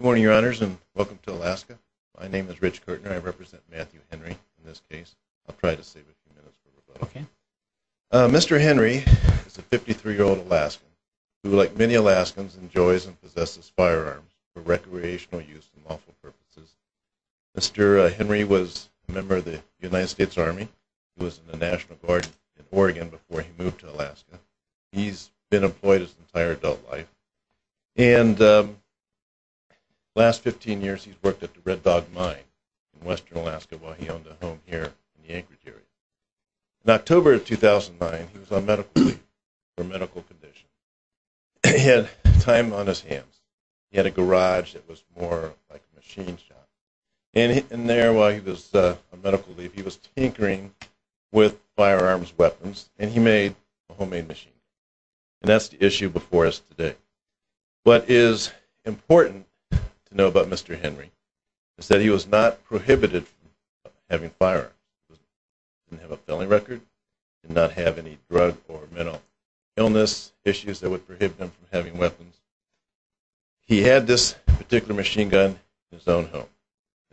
Good morning, your honors, and welcome to Alaska. My name is Rich Kirtner. I represent Matthew Henry in this case. I'll try to save a few minutes for the vote. Mr. Henry is a 53-year-old Alaskan who, like many Alaskans, enjoys and possesses firearms for recreational use and lawful purposes. Mr. Henry was a member of the United States Army. He was in the National Guard in Oregon before he moved to Alaska. He's been employed his entire adult life. And the last 15 years, he's worked at the Red Dog Mine in western Alaska while he owned a home here in the Anchorage area. In October of 2009, he was on medical leave for medical conditions. He had time on his hands. He had a garage that was more like a machine shop. And there, while he was on medical leave, he was tinkering with firearms and weapons, and he made a homemade machine. And that's the issue before us today. What is important to know about Mr. Henry is that he was not prohibited from having firearms. He didn't have a felony record. He did not have any drug or mental illness issues that would prohibit him from having weapons. He had this particular machine gun in his own home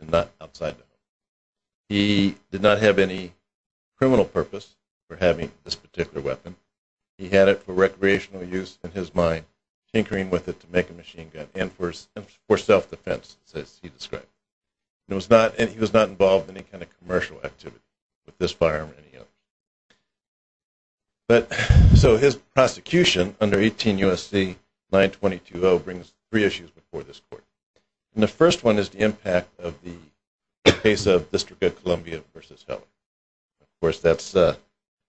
and not outside the home. He did not have any criminal purpose for having this particular weapon. He had it for recreational use in his mind, tinkering with it to make a machine gun and for self-defense, as he described. And he was not involved in any kind of commercial activity with this firearm or any other. So his prosecution under 18 U.S.C. 922.0 brings three issues before this court. And the first one is the impact of the case of District of Columbia v. Heller. Of course, that's a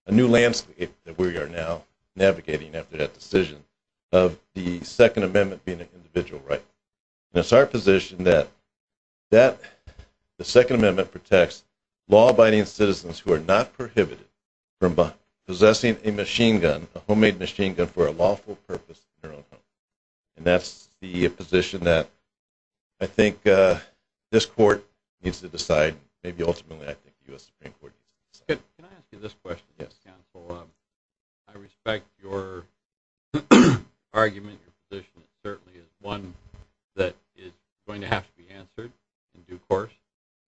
new landscape that we are now navigating after that decision of the Second Amendment being an individual right. And it's our position that the Second Amendment protects law-abiding citizens who are not prohibited from possessing a machine gun, a homemade machine gun, for a lawful purpose in their own home. And that's the position that I think this court needs to decide, maybe ultimately I think the U.S. Supreme Court needs to decide. Can I ask you this question? Yes. Counsel, I respect your argument. Your position certainly is one that is going to have to be answered in due course.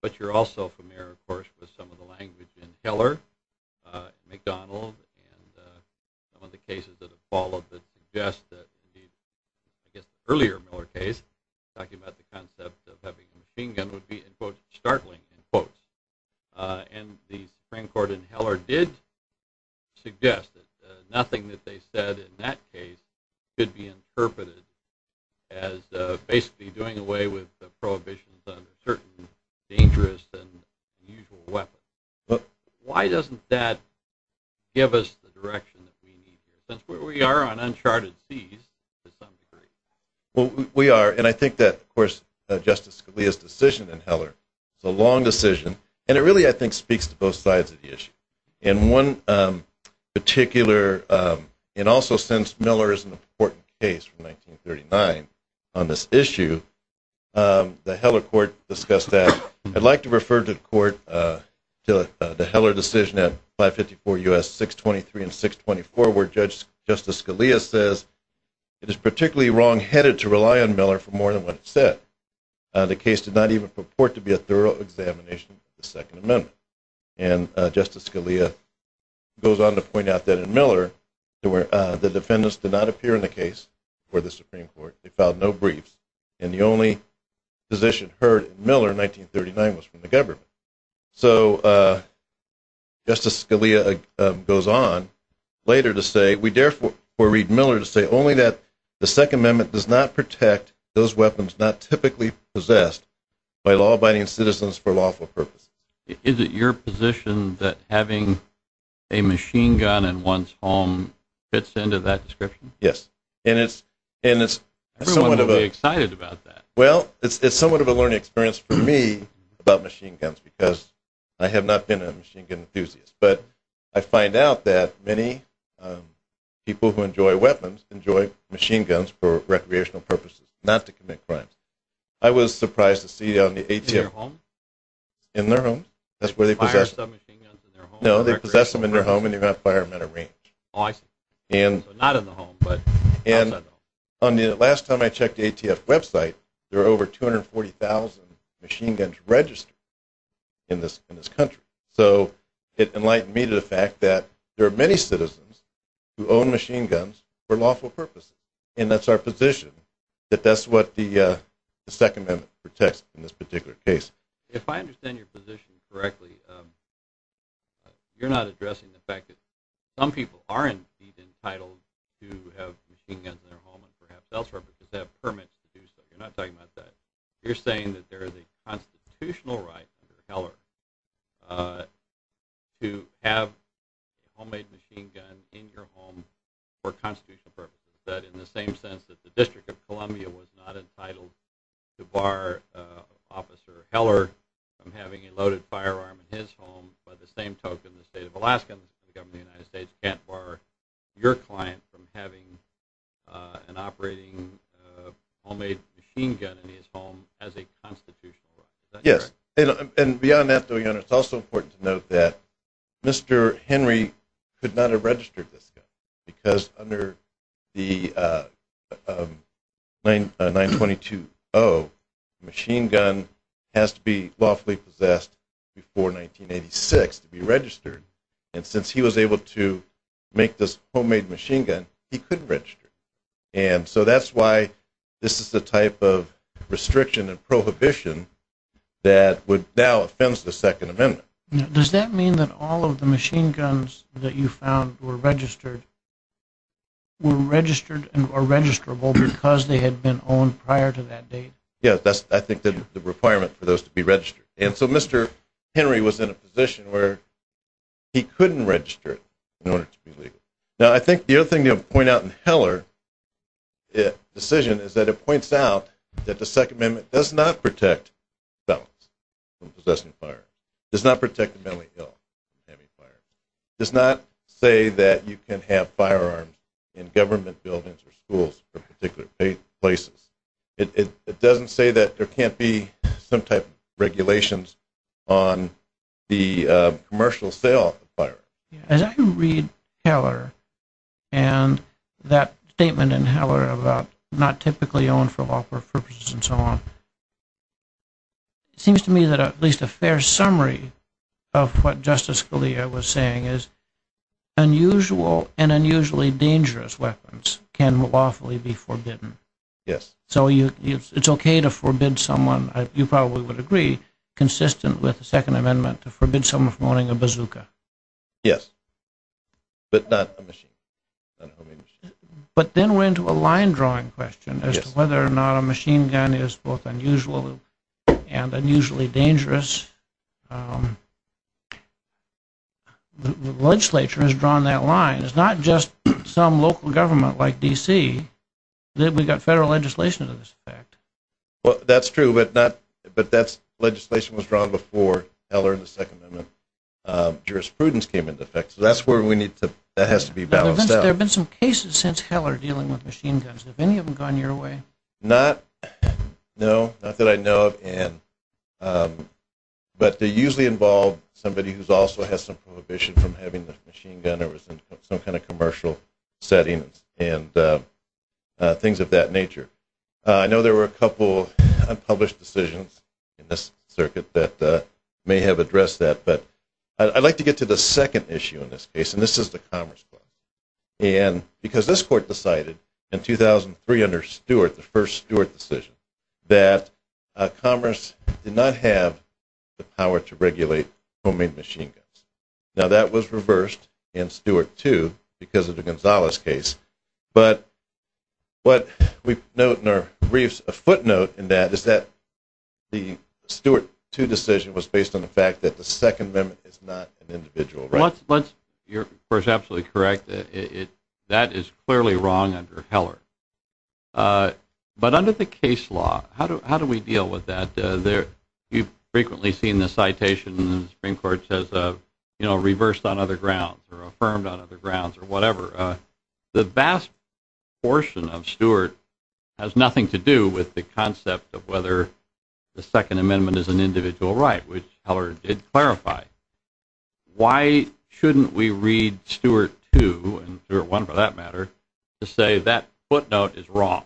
But you're also familiar, of course, with some of the language in Heller, McDonald, and some of the cases that have followed that suggest that the earlier Miller case, talking about the concept of having a machine gun, would be, in quotes, startling, in quotes. And the Supreme Court in Heller did suggest that nothing that they said in that case could be interpreted as basically doing away with the prohibitions on certain dangerous and unusual weapons. Why doesn't that give us the direction that we need, since we are on uncharted seas to some degree? Well, we are. And I think that, of course, Justice Scalia's decision in Heller is a long decision, and it really, I think, speaks to both sides of the issue. In one particular, and also since Miller is an important case from 1939 on this issue, the Heller court discussed that. I'd like to refer the court to the Heller decision at 554 U.S. 623 and 624, where Justice Scalia says, It is particularly wrong-headed to rely on Miller for more than what it said. The case did not even purport to be a thorough examination of the Second Amendment. And Justice Scalia goes on to point out that in Miller, the defendants did not appear in the case before the Supreme Court. They filed no briefs. And the only position heard in Miller in 1939 was from the government. So Justice Scalia goes on later to say, We dare for Reed Miller to say only that the Second Amendment does not protect those weapons not typically possessed by law-abiding citizens for lawful purposes. Is it your position that having a machine gun in one's home fits into that description? Yes. And it's somewhat of a… Everyone would be excited about that. Well, it's somewhat of a learning experience for me about machine guns because I have not been a machine gun enthusiast. But I find out that many people who enjoy weapons enjoy machine guns for recreational purposes, not to commit crimes. I was surprised to see on the ATF… In their home? In their home. That's where they possess them. They fire submachine guns in their home? No, they possess them in their home and they're going to fire them out of range. Oh, I see. So not in the home, but outside the home. On the last time I checked the ATF website, there are over 240,000 machine guns registered in this country. So it enlightened me to the fact that there are many citizens who own machine guns for lawful purposes. And that's our position, that that's what the Second Amendment protects in this particular case. If I understand your position correctly, you're not addressing the fact that some people aren't even entitled to have machine guns in their home and perhaps elsewhere, but just have permits to do so. You're not talking about that. You're saying that there is a constitutional right under Heller to have a homemade machine gun in your home for constitutional purposes. That in the same sense that the District of Columbia was not entitled to bar Officer Heller from having a loaded firearm in his home, by the same token the state of Alaska and the government of the United States can't bar your client from having an operating homemade machine gun in his home as a constitutional right. Yes. And beyond that, though, it's also important to note that Mr. Henry could not have registered this gun because under the 922-0, the machine gun has to be lawfully possessed before 1986 to be registered. And since he was able to make this homemade machine gun, he couldn't register it. And so that's why this is the type of restriction and prohibition that would now offend the Second Amendment. Does that mean that all of the machine guns that you found were registered were registered or registrable because they had been owned prior to that date? Yes. And so Mr. Henry was in a position where he couldn't register it in order to be legal. Now, I think the other thing to point out in Heller's decision is that it points out that the Second Amendment does not protect felons from possessing firearms. It does not protect the mentally ill from having firearms. It does not say that you can have firearms in government buildings or schools or particular places. It doesn't say that there can't be some type of regulations on the commercial sale of firearms. As I read Heller and that statement in Heller about not typically owned for lawful purposes and so on, it seems to me that at least a fair summary of what Justice Scalia was saying is unusual and unusually dangerous weapons can lawfully be forbidden. Yes. So it's okay to forbid someone, you probably would agree, consistent with the Second Amendment, to forbid someone from owning a bazooka. Yes, but not a machine gun. But then we're into a line-drawing question as to whether or not a machine gun is both unusual and unusually dangerous. The legislature has drawn that line. It's not just some local government like D.C. that we've got federal legislation to this effect. That's true, but that legislation was drawn before Heller and the Second Amendment. Jurisprudence came into effect, so that has to be balanced out. There have been some cases since Heller dealing with machine guns. Have any of them gone your way? Not, no, not that I know of. But they usually involve somebody who also has some prohibition from having a machine gun or is in some kind of commercial setting and things of that nature. I know there were a couple unpublished decisions in this circuit that may have addressed that, but I'd like to get to the second issue in this case, and this is the Commerce Court. Because this court decided in 2003 under Stewart, the first Stewart decision, that Commerce did not have the power to regulate homemade machine guns. Now, that was reversed in Stewart 2 because of the Gonzales case, but what we note in our briefs, a footnote in that, is that the Stewart 2 decision was based on the fact that the Second Amendment is not an individual right. You're, of course, absolutely correct. That is clearly wrong under Heller. But under the case law, how do we deal with that? You've frequently seen the citation in the Supreme Court says, you know, reversed on other grounds or affirmed on other grounds or whatever. The vast portion of Stewart has nothing to do with the concept of whether the Second Amendment is an individual right, which Heller did clarify. Why shouldn't we read Stewart 2, and Stewart 1 for that matter, to say that footnote is wrong?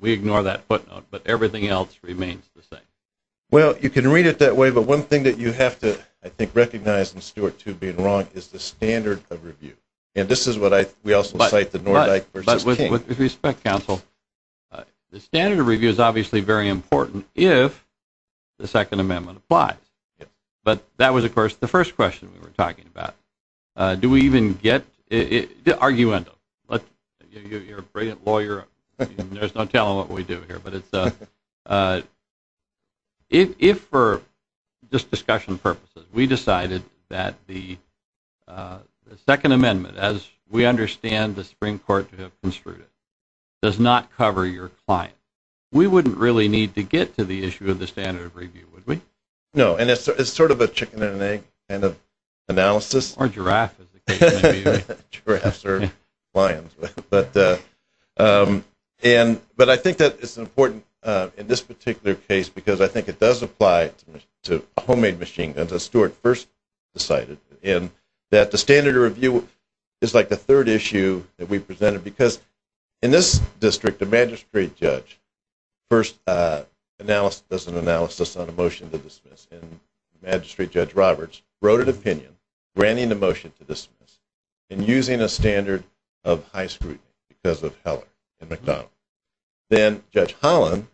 We ignore that footnote, but everything else remains the same. Well, you can read it that way, but one thing that you have to, I think, recognize in Stewart 2 being wrong, is the standard of review. And this is what I, we also cite the Noordijk versus King. Well, with respect, counsel, the standard of review is obviously very important if the Second Amendment applies. But that was, of course, the first question we were talking about. Do we even get it? Arguendo. You're a brilliant lawyer. There's no telling what we do here. If for just discussion purposes, we decided that the Second Amendment, as we understand the Supreme Court to have construed it, does not cover your client, we wouldn't really need to get to the issue of the standard of review, would we? No, and it's sort of a chicken and egg kind of analysis. Or giraffe. Giraffes are lions. But I think that it's important in this particular case because I think it does apply to a homemade machine, as Stewart first cited, in that the standard of review is like the third issue that we presented because in this district, the magistrate judge first does an analysis on a motion to dismiss. And the magistrate judge, Roberts, wrote an opinion granting the motion to dismiss and using a standard of high scrutiny because of Heller and McDonald. Then Judge Holland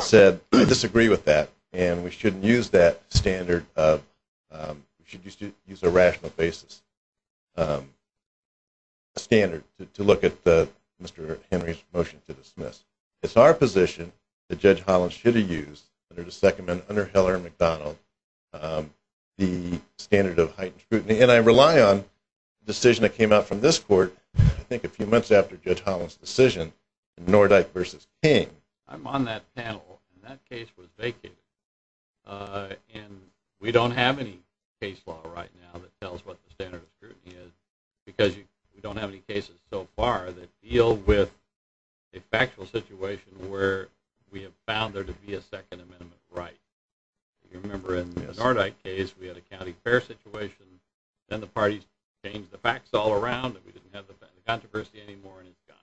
said, I disagree with that, and we shouldn't use that standard of, we should use a rational basis standard to look at Mr. Henry's motion to dismiss. It's our position that Judge Holland should have used under the Second Amendment, under Heller and McDonald, the standard of heightened scrutiny. And I rely on the decision that came out from this court, I think a few months after Judge Holland's decision, Nordyke v. King. I'm on that panel, and that case was vacated. And we don't have any case law right now that tells what the standard of scrutiny is because we don't have any cases so far that deal with a factual situation where we have found there to be a Second Amendment right. You remember in the Nordyke case, we had a county fair situation, and the parties changed the facts all around, and we didn't have the controversy anymore, and it's gone.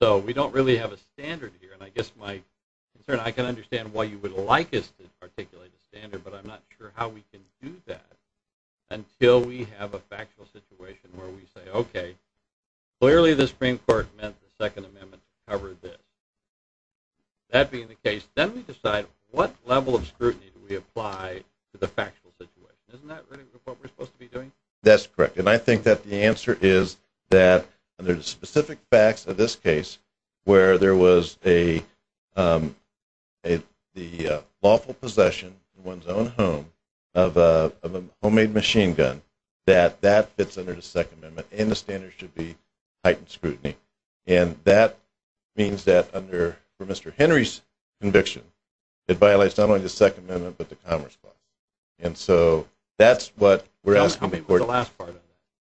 So we don't really have a standard here. And I guess my concern, I can understand why you would like us to articulate a standard, but I'm not sure how we can do that until we have a factual situation where we say, okay, clearly the Supreme Court meant the Second Amendment covered this. That being the case, then we decide what level of scrutiny do we apply to the factual situation. Isn't that really what we're supposed to be doing? That's correct, and I think that the answer is that under the specific facts of this case, where there was the lawful possession in one's own home of a homemade machine gun, that that fits under the Second Amendment, and the standard should be heightened scrutiny. And that means that under Mr. Henry's conviction, it violates not only the Second Amendment but the Commerce Clause. And so that's what we're asking the court to do.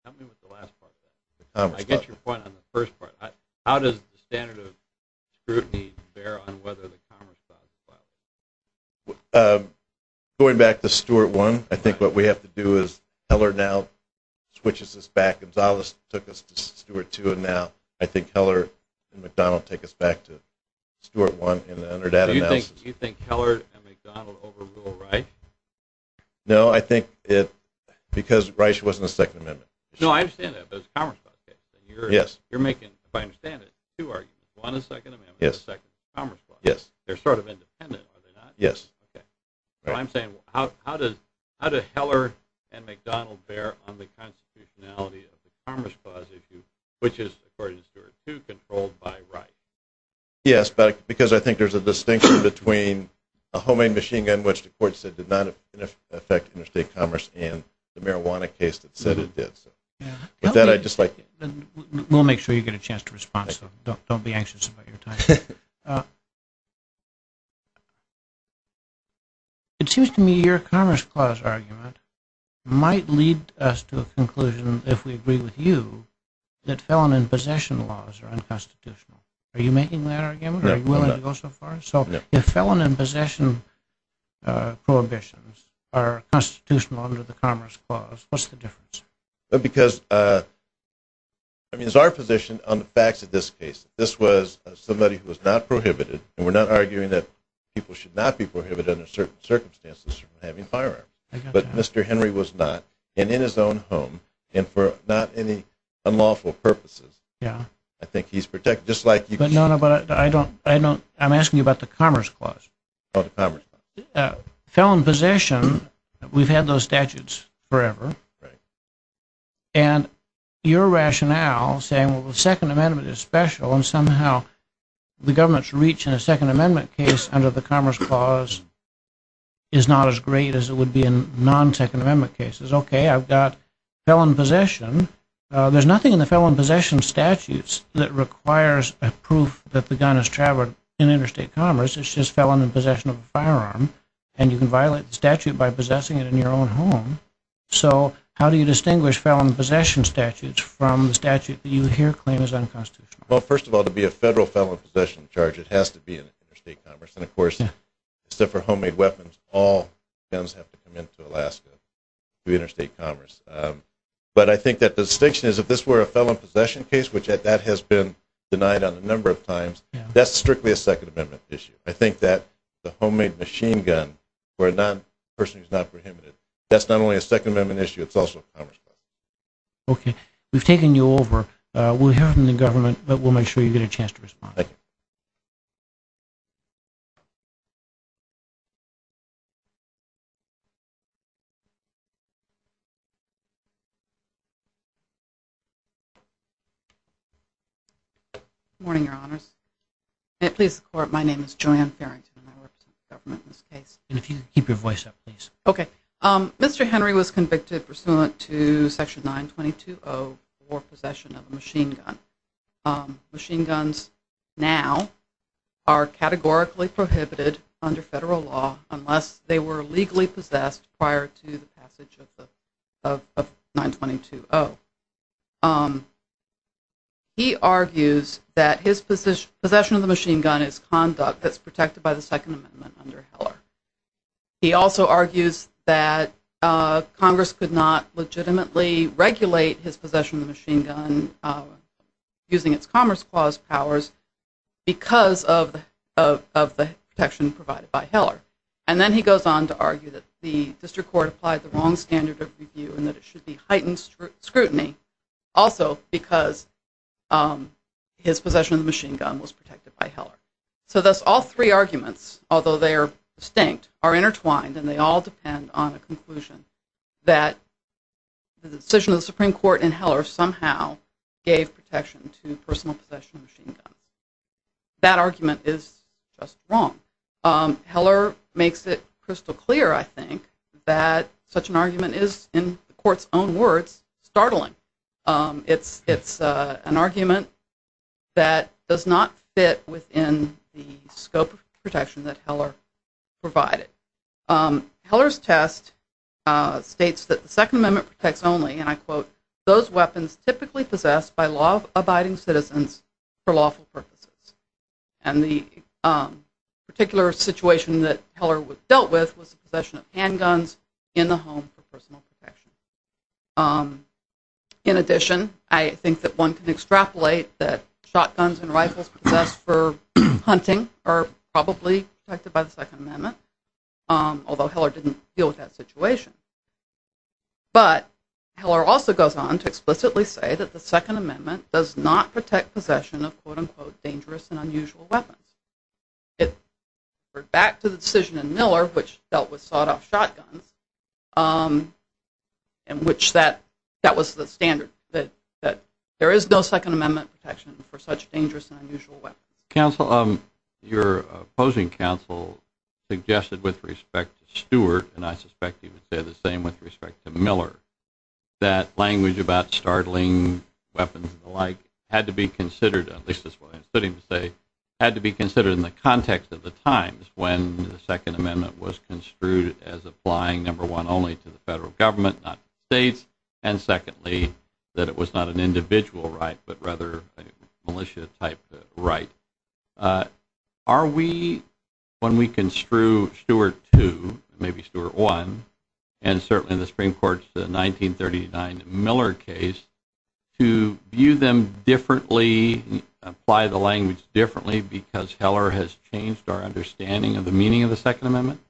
Help me with the last part of that. I get your point on the first part. How does the standard of scrutiny bear on whether the Commerce Clause applies? Going back to Stuart 1, I think what we have to do is Heller now switches us back. Gonzales took us to Stuart 2, and now I think Heller and McDonald take us back to Stuart 1 in the underdata analysis. Do you think Heller and McDonald overrule Reich? No, I think it's because Reich wasn't a Second Amendment. No, I understand that, but it's a Commerce Clause case. Yes. You're making, if I understand it, two arguments. One is the Second Amendment and the second is the Commerce Clause. Yes. They're sort of independent, are they not? Yes. Okay. So I'm saying, how do Heller and McDonald bear on the constitutionality of the Commerce Clause, which is, according to Stuart 2, controlled by Reich? Yes, because I think there's a distinction between a homing machine gun, which the court said did not affect interstate commerce, and the marijuana case that said it did. With that, I'd just like... We'll make sure you get a chance to respond, so don't be anxious about your time. It seems to me your Commerce Clause argument might lead us to a conclusion, if we agree with you, that felon and possession laws are unconstitutional. Are you making that argument? No, I'm not. Are you willing to go so far? So if felon and possession prohibitions are constitutional under the Commerce Clause, what's the difference? Because, I mean, it's our position on the facts of this case. This was somebody who was not prohibited, and we're not arguing that people should not be prohibited under certain circumstances from having firearms. But Mr. Henry was not, and in his own home, and for not any unlawful purposes. Yeah. I think he's protected, just like you... No, no, but I don't... I'm asking you about the Commerce Clause. Oh, the Commerce Clause. Felon and possession, we've had those statutes forever. Right. And your rationale, saying, well, the Second Amendment is special, and somehow the government's reach in a Second Amendment case under the Commerce Clause is not as great as it would be in non-Second Amendment cases. Okay, I've got felon and possession. There's nothing in the felon and possession statutes that requires a proof that the gun has traveled in interstate commerce. It's just felon and possession of a firearm, and you can violate the statute by possessing it in your own home. So how do you distinguish felon and possession statutes from the statute that you here claim is unconstitutional? Well, first of all, to be a federal felon and possession charge, it has to be in interstate commerce, and of course, except for homemade weapons, all guns have to come into Alaska through interstate commerce. But I think that the distinction is if this were a felon and possession case, which that has been denied on a number of times, that's strictly a Second Amendment issue. I think that the homemade machine gun for a person who's not prohibited, that's not only a Second Amendment issue, it's also a Commerce Clause. Okay. We've taken you over. We'll hear from the government, but we'll make sure you get a chance to respond. Thank you. Good morning, Your Honors. May it please the Court, my name is Joanne Farrington, and I work for the government in this case. And if you could keep your voice up, please. Okay. Mr. Henry was convicted pursuant to Section 922.0 for possession of a machine gun. Machine guns now are categorically prohibited under federal law unless they were legally possessed prior to the passage of 922.0. He argues that his possession of the machine gun is conduct that's protected by the Second Amendment under Heller. He also argues that Congress could not legitimately regulate his possession of the machine gun using its Commerce Clause powers because of the protection provided by Heller. And then he goes on to argue that the district court applied the wrong standard of review and that it should be heightened scrutiny also because his possession of the machine gun was protected by Heller. So thus all three arguments, although they are distinct, are intertwined and they all depend on a conclusion that the decision of the Supreme Court in Heller somehow gave protection to personal possession of the machine gun. That argument is just wrong. Heller makes it crystal clear, I think, that such an argument is, in the Court's own words, startling. It's an argument that does not fit within the scope of protection that Heller provided. Heller's test states that the Second Amendment protects only, and I quote, those weapons typically possessed by law-abiding citizens for lawful purposes. And the particular situation that Heller dealt with was the possession of handguns in the home for personal protection. In addition, I think that one can extrapolate that shotguns and rifles possessed for hunting are probably protected by the Second Amendment, although Heller didn't deal with that situation. But Heller also goes on to explicitly say that the Second Amendment does not protect possession of, quote-unquote, dangerous and unusual weapons. It referred back to the decision in Miller, which dealt with sawed-off shotguns, in which that was the standard, that there is no Second Amendment protection for such dangerous and unusual weapons. Counsel, your opposing counsel suggested, with respect to Stewart, and I suspect he would say the same with respect to Miller, that language about startling weapons and the like had to be considered, at least that's what I'm sitting to say, had to be considered in the context of the times when the Second Amendment was construed as applying, number one, only to the federal government, not to the states, and secondly, that it was not an individual right, but rather a militia-type right. Are we, when we construe Stewart II, maybe Stewart I, and certainly in the Supreme Court's 1939 Miller case, to view them differently, apply the language differently, because Heller has changed our understanding of the meaning of the Second Amendment?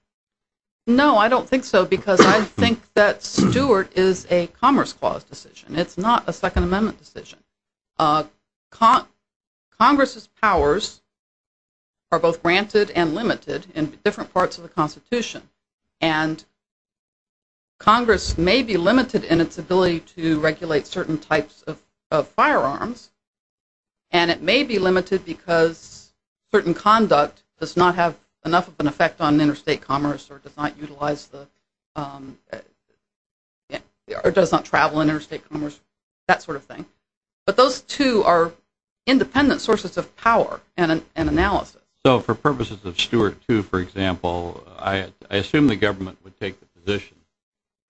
No, I don't think so, because I think that Stewart is a Commerce Clause decision. It's not a Second Amendment decision. Congress's powers are both granted and limited in different parts of the Constitution, and Congress may be limited in its ability to regulate certain types of firearms, and it may be limited because certain conduct does not have enough of an effect on interstate commerce or does not travel in interstate commerce, that sort of thing. But those two are independent sources of power and analysis. So for purposes of Stewart II, for example, I assume the government would take the position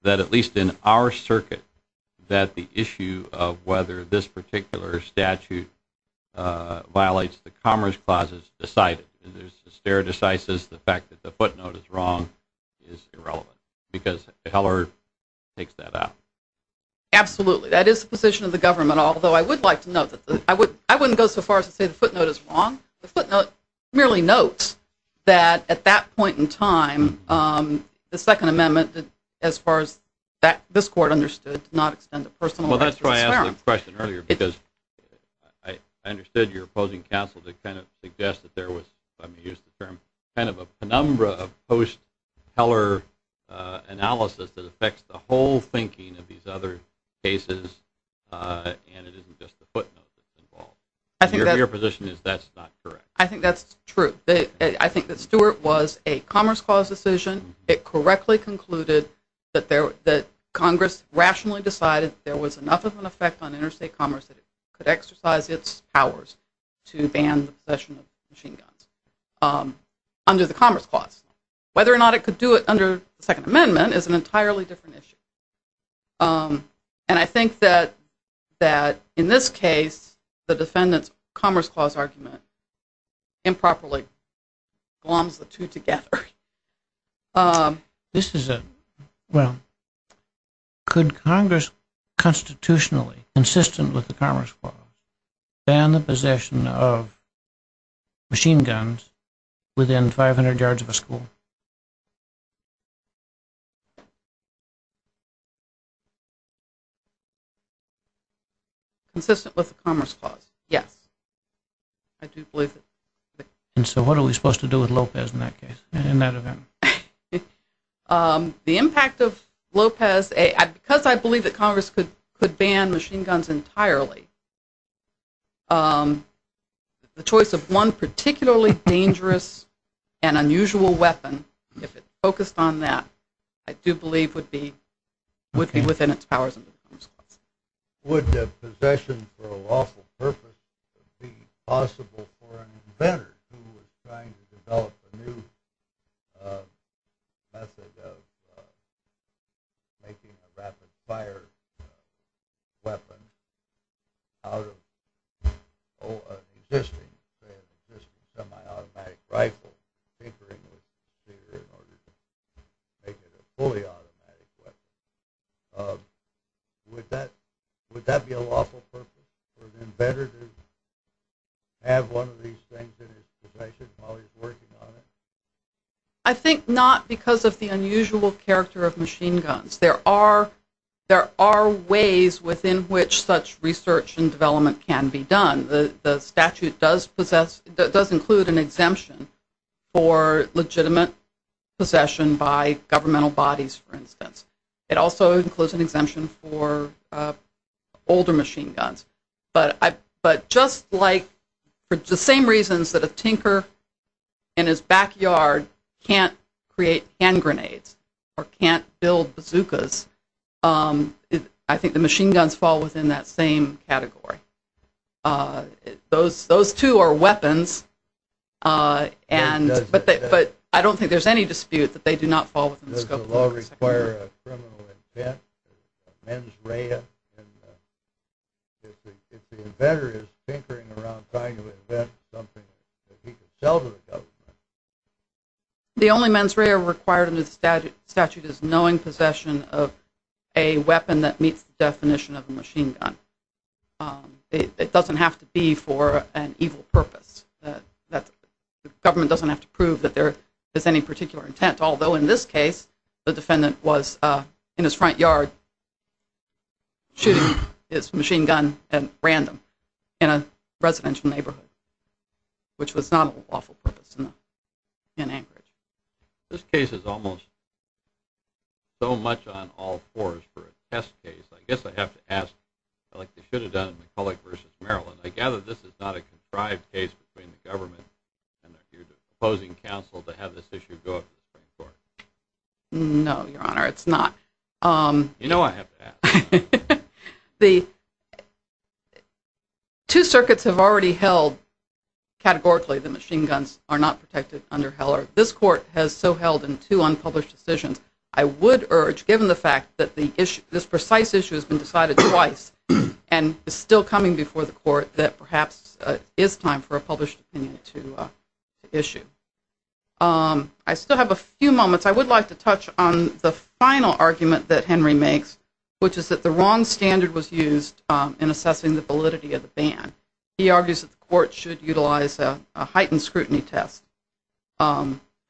that, at least in our circuit, that the issue of whether this particular statute violates the Commerce Clause is decided. There's the stare decisis, the fact that the footnote is wrong, is irrelevant, because Heller takes that out. Absolutely. That is the position of the government, although I would like to note that I wouldn't go so far as to say the footnote is wrong. The footnote merely notes that, at that point in time, the Second Amendment, as far as this Court understood, did not extend a personal right to this firearm. Well, that's why I asked the question earlier, because I understood your opposing counsel to kind of suggest that there was, if I may use the term, kind of a penumbra of post-Heller analysis that affects the whole thinking of these other cases, and it isn't just the footnote that's involved. Your position is that's not correct. I think that's true. I think that Stewart was a Commerce Clause decision. It correctly concluded that Congress rationally decided there was enough of an effect on interstate commerce that it could exercise its powers to ban the possession of machine guns under the Commerce Clause. Whether or not it could do it under the Second Amendment is an entirely different issue. And I think that, in this case, the defendant's Commerce Clause argument improperly gloms the two together. This is a – well, could Congress constitutionally, consistent with the Commerce Clause, ban the possession of machine guns within 500 yards of a school? Consistent with the Commerce Clause, yes. I do believe it. And so what are we supposed to do with Lopez in that case, in that event? The impact of Lopez – because I believe that Congress could ban machine guns entirely, the choice of one particularly dangerous and unusual weapon, if it focused on that, I do believe would be within its powers under the Commerce Clause. Would the possession for a lawful purpose be possible for an inventor who was trying to develop a new method of making a rapid-fire weapon out of an existing semi-automatic rifle, tampering with the procedure in order to make it a fully automatic weapon? Would that be a lawful purpose for an inventor to have one of these things in his possession while he's working on it? I think not because of the unusual character of machine guns. There are ways within which such research and development can be done. The statute does include an exemption for legitimate possession by governmental bodies, for instance. It also includes an exemption for older machine guns. But just like for the same reasons that a tinker in his backyard can't create hand grenades or can't build bazookas, I think the machine guns fall within that same category. Those two are weapons, but I don't think there's any dispute that they do not fall within the scope of the Commerce Clause. Does the law require a criminal invent, a mens rea, if the inventor is tinkering around trying to invent something that he can sell to the government? The only mens rea required under the statute is knowing possession of a weapon that meets the definition of a machine gun. It doesn't have to be for an evil purpose. The government doesn't have to prove that there is any particular intent, although in this case the defendant was in his front yard shooting his machine gun at random in a residential neighborhood, which was not an awful purpose in Anchorage. This case is almost so much on all fours for a test case. I guess I have to ask, like they should have done in McCulloch v. Maryland, I gather this is not a contrived case between the government and your opposing counsel to have this issue go up to the Supreme Court? No, Your Honor, it's not. You know I have to ask. Two circuits have already held categorically that machine guns are not protected under Heller. This court has so held in two unpublished decisions. I would urge, given the fact that this precise issue has been decided twice and is still coming before the court, that perhaps it is time for a published opinion to issue. I still have a few moments. I would like to touch on the final argument that Henry makes, which is that the wrong standard was used in assessing the validity of the ban. He argues that the court should utilize a heightened scrutiny test,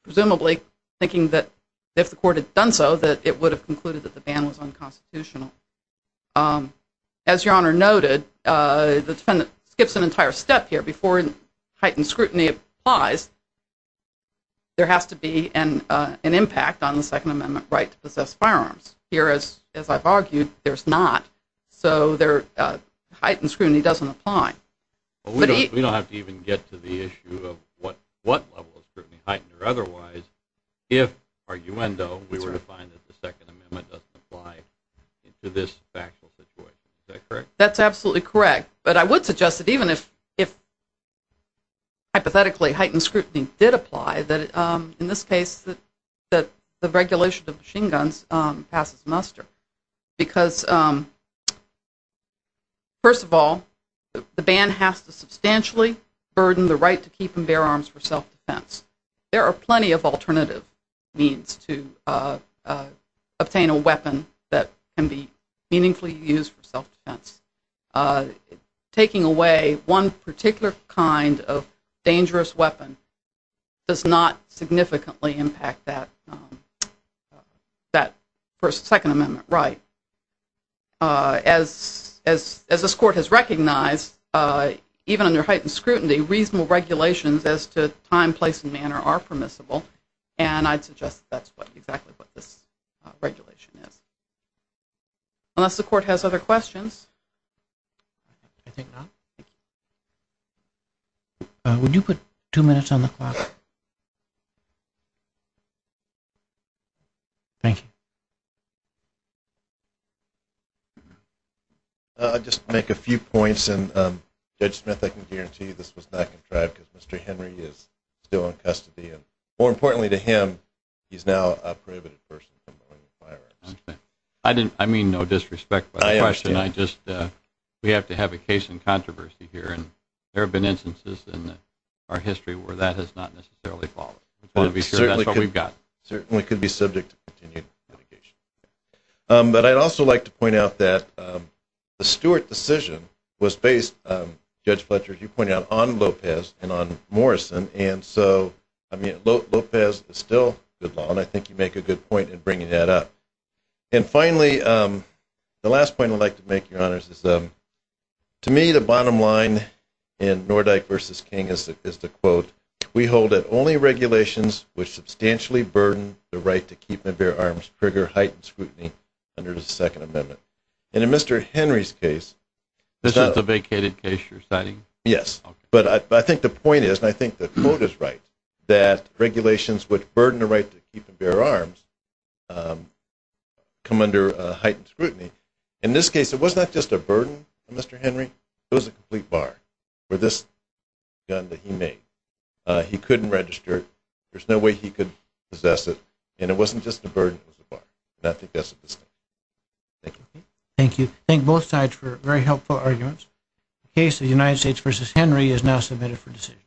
presumably thinking that if the court had done so that it would have concluded that the ban was unconstitutional. As Your Honor noted, the defendant skips an entire step here. If the court heightened scrutiny applies, there has to be an impact on the Second Amendment right to possess firearms. Here, as I've argued, there's not. So heightened scrutiny doesn't apply. We don't have to even get to the issue of what level of scrutiny, heightened or otherwise, if, arguendo, we were to find that the Second Amendment doesn't apply to this factual situation. Is that correct? That's absolutely correct. But I would suggest that even if, hypothetically, heightened scrutiny did apply, that in this case the regulation of machine guns passes muster. Because, first of all, the ban has to substantially burden the right to keep and bear arms for self-defense. There are plenty of alternative means to obtain a weapon that can be meaningfully used for self-defense. Taking away one particular kind of dangerous weapon does not significantly impact that Second Amendment right. As this court has recognized, even under heightened scrutiny, reasonable regulations as to time, place, and manner are permissible. And I'd suggest that's exactly what this regulation is. Unless the court has other questions. I think not. Would you put two minutes on the clock? Thank you. I'll just make a few points. And, Judge Smith, I can guarantee you this was not contrived because Mr. Henry is still in custody. And, more importantly to him, he's now a prohibited person from going to firearms. I mean no disrespect. I understand. We have to have a case in controversy here. And there have been instances in our history where that has not necessarily followed. That's what we've got. Certainly could be subject to continued litigation. But I'd also like to point out that the Stewart decision was based, Judge Fletcher, as you pointed out, on Lopez and on Morrison. And so, I mean, Lopez is still good law, and I think you make a good point in bringing that up. And finally, the last point I'd like to make, Your Honors, is to me the bottom line in Nordyke v. King is the quote, We hold that only regulations which substantially burden the right to keep and bear arms trigger heightened scrutiny under the Second Amendment. And in Mr. Henry's case, This is the vacated case you're citing? Yes. But I think the point is, and I think the quote is right, that regulations which burden the right to keep and bear arms come under heightened scrutiny. In this case, it was not just a burden on Mr. Henry. It was a complete bar for this gun that he made. He couldn't register it. There's no way he could possess it. And it wasn't just a burden. It was a bar. And I think that's a mistake. Thank you. Thank you. Thank both sides for very helpful arguments. The case of United States v. Henry is now submitted for decision.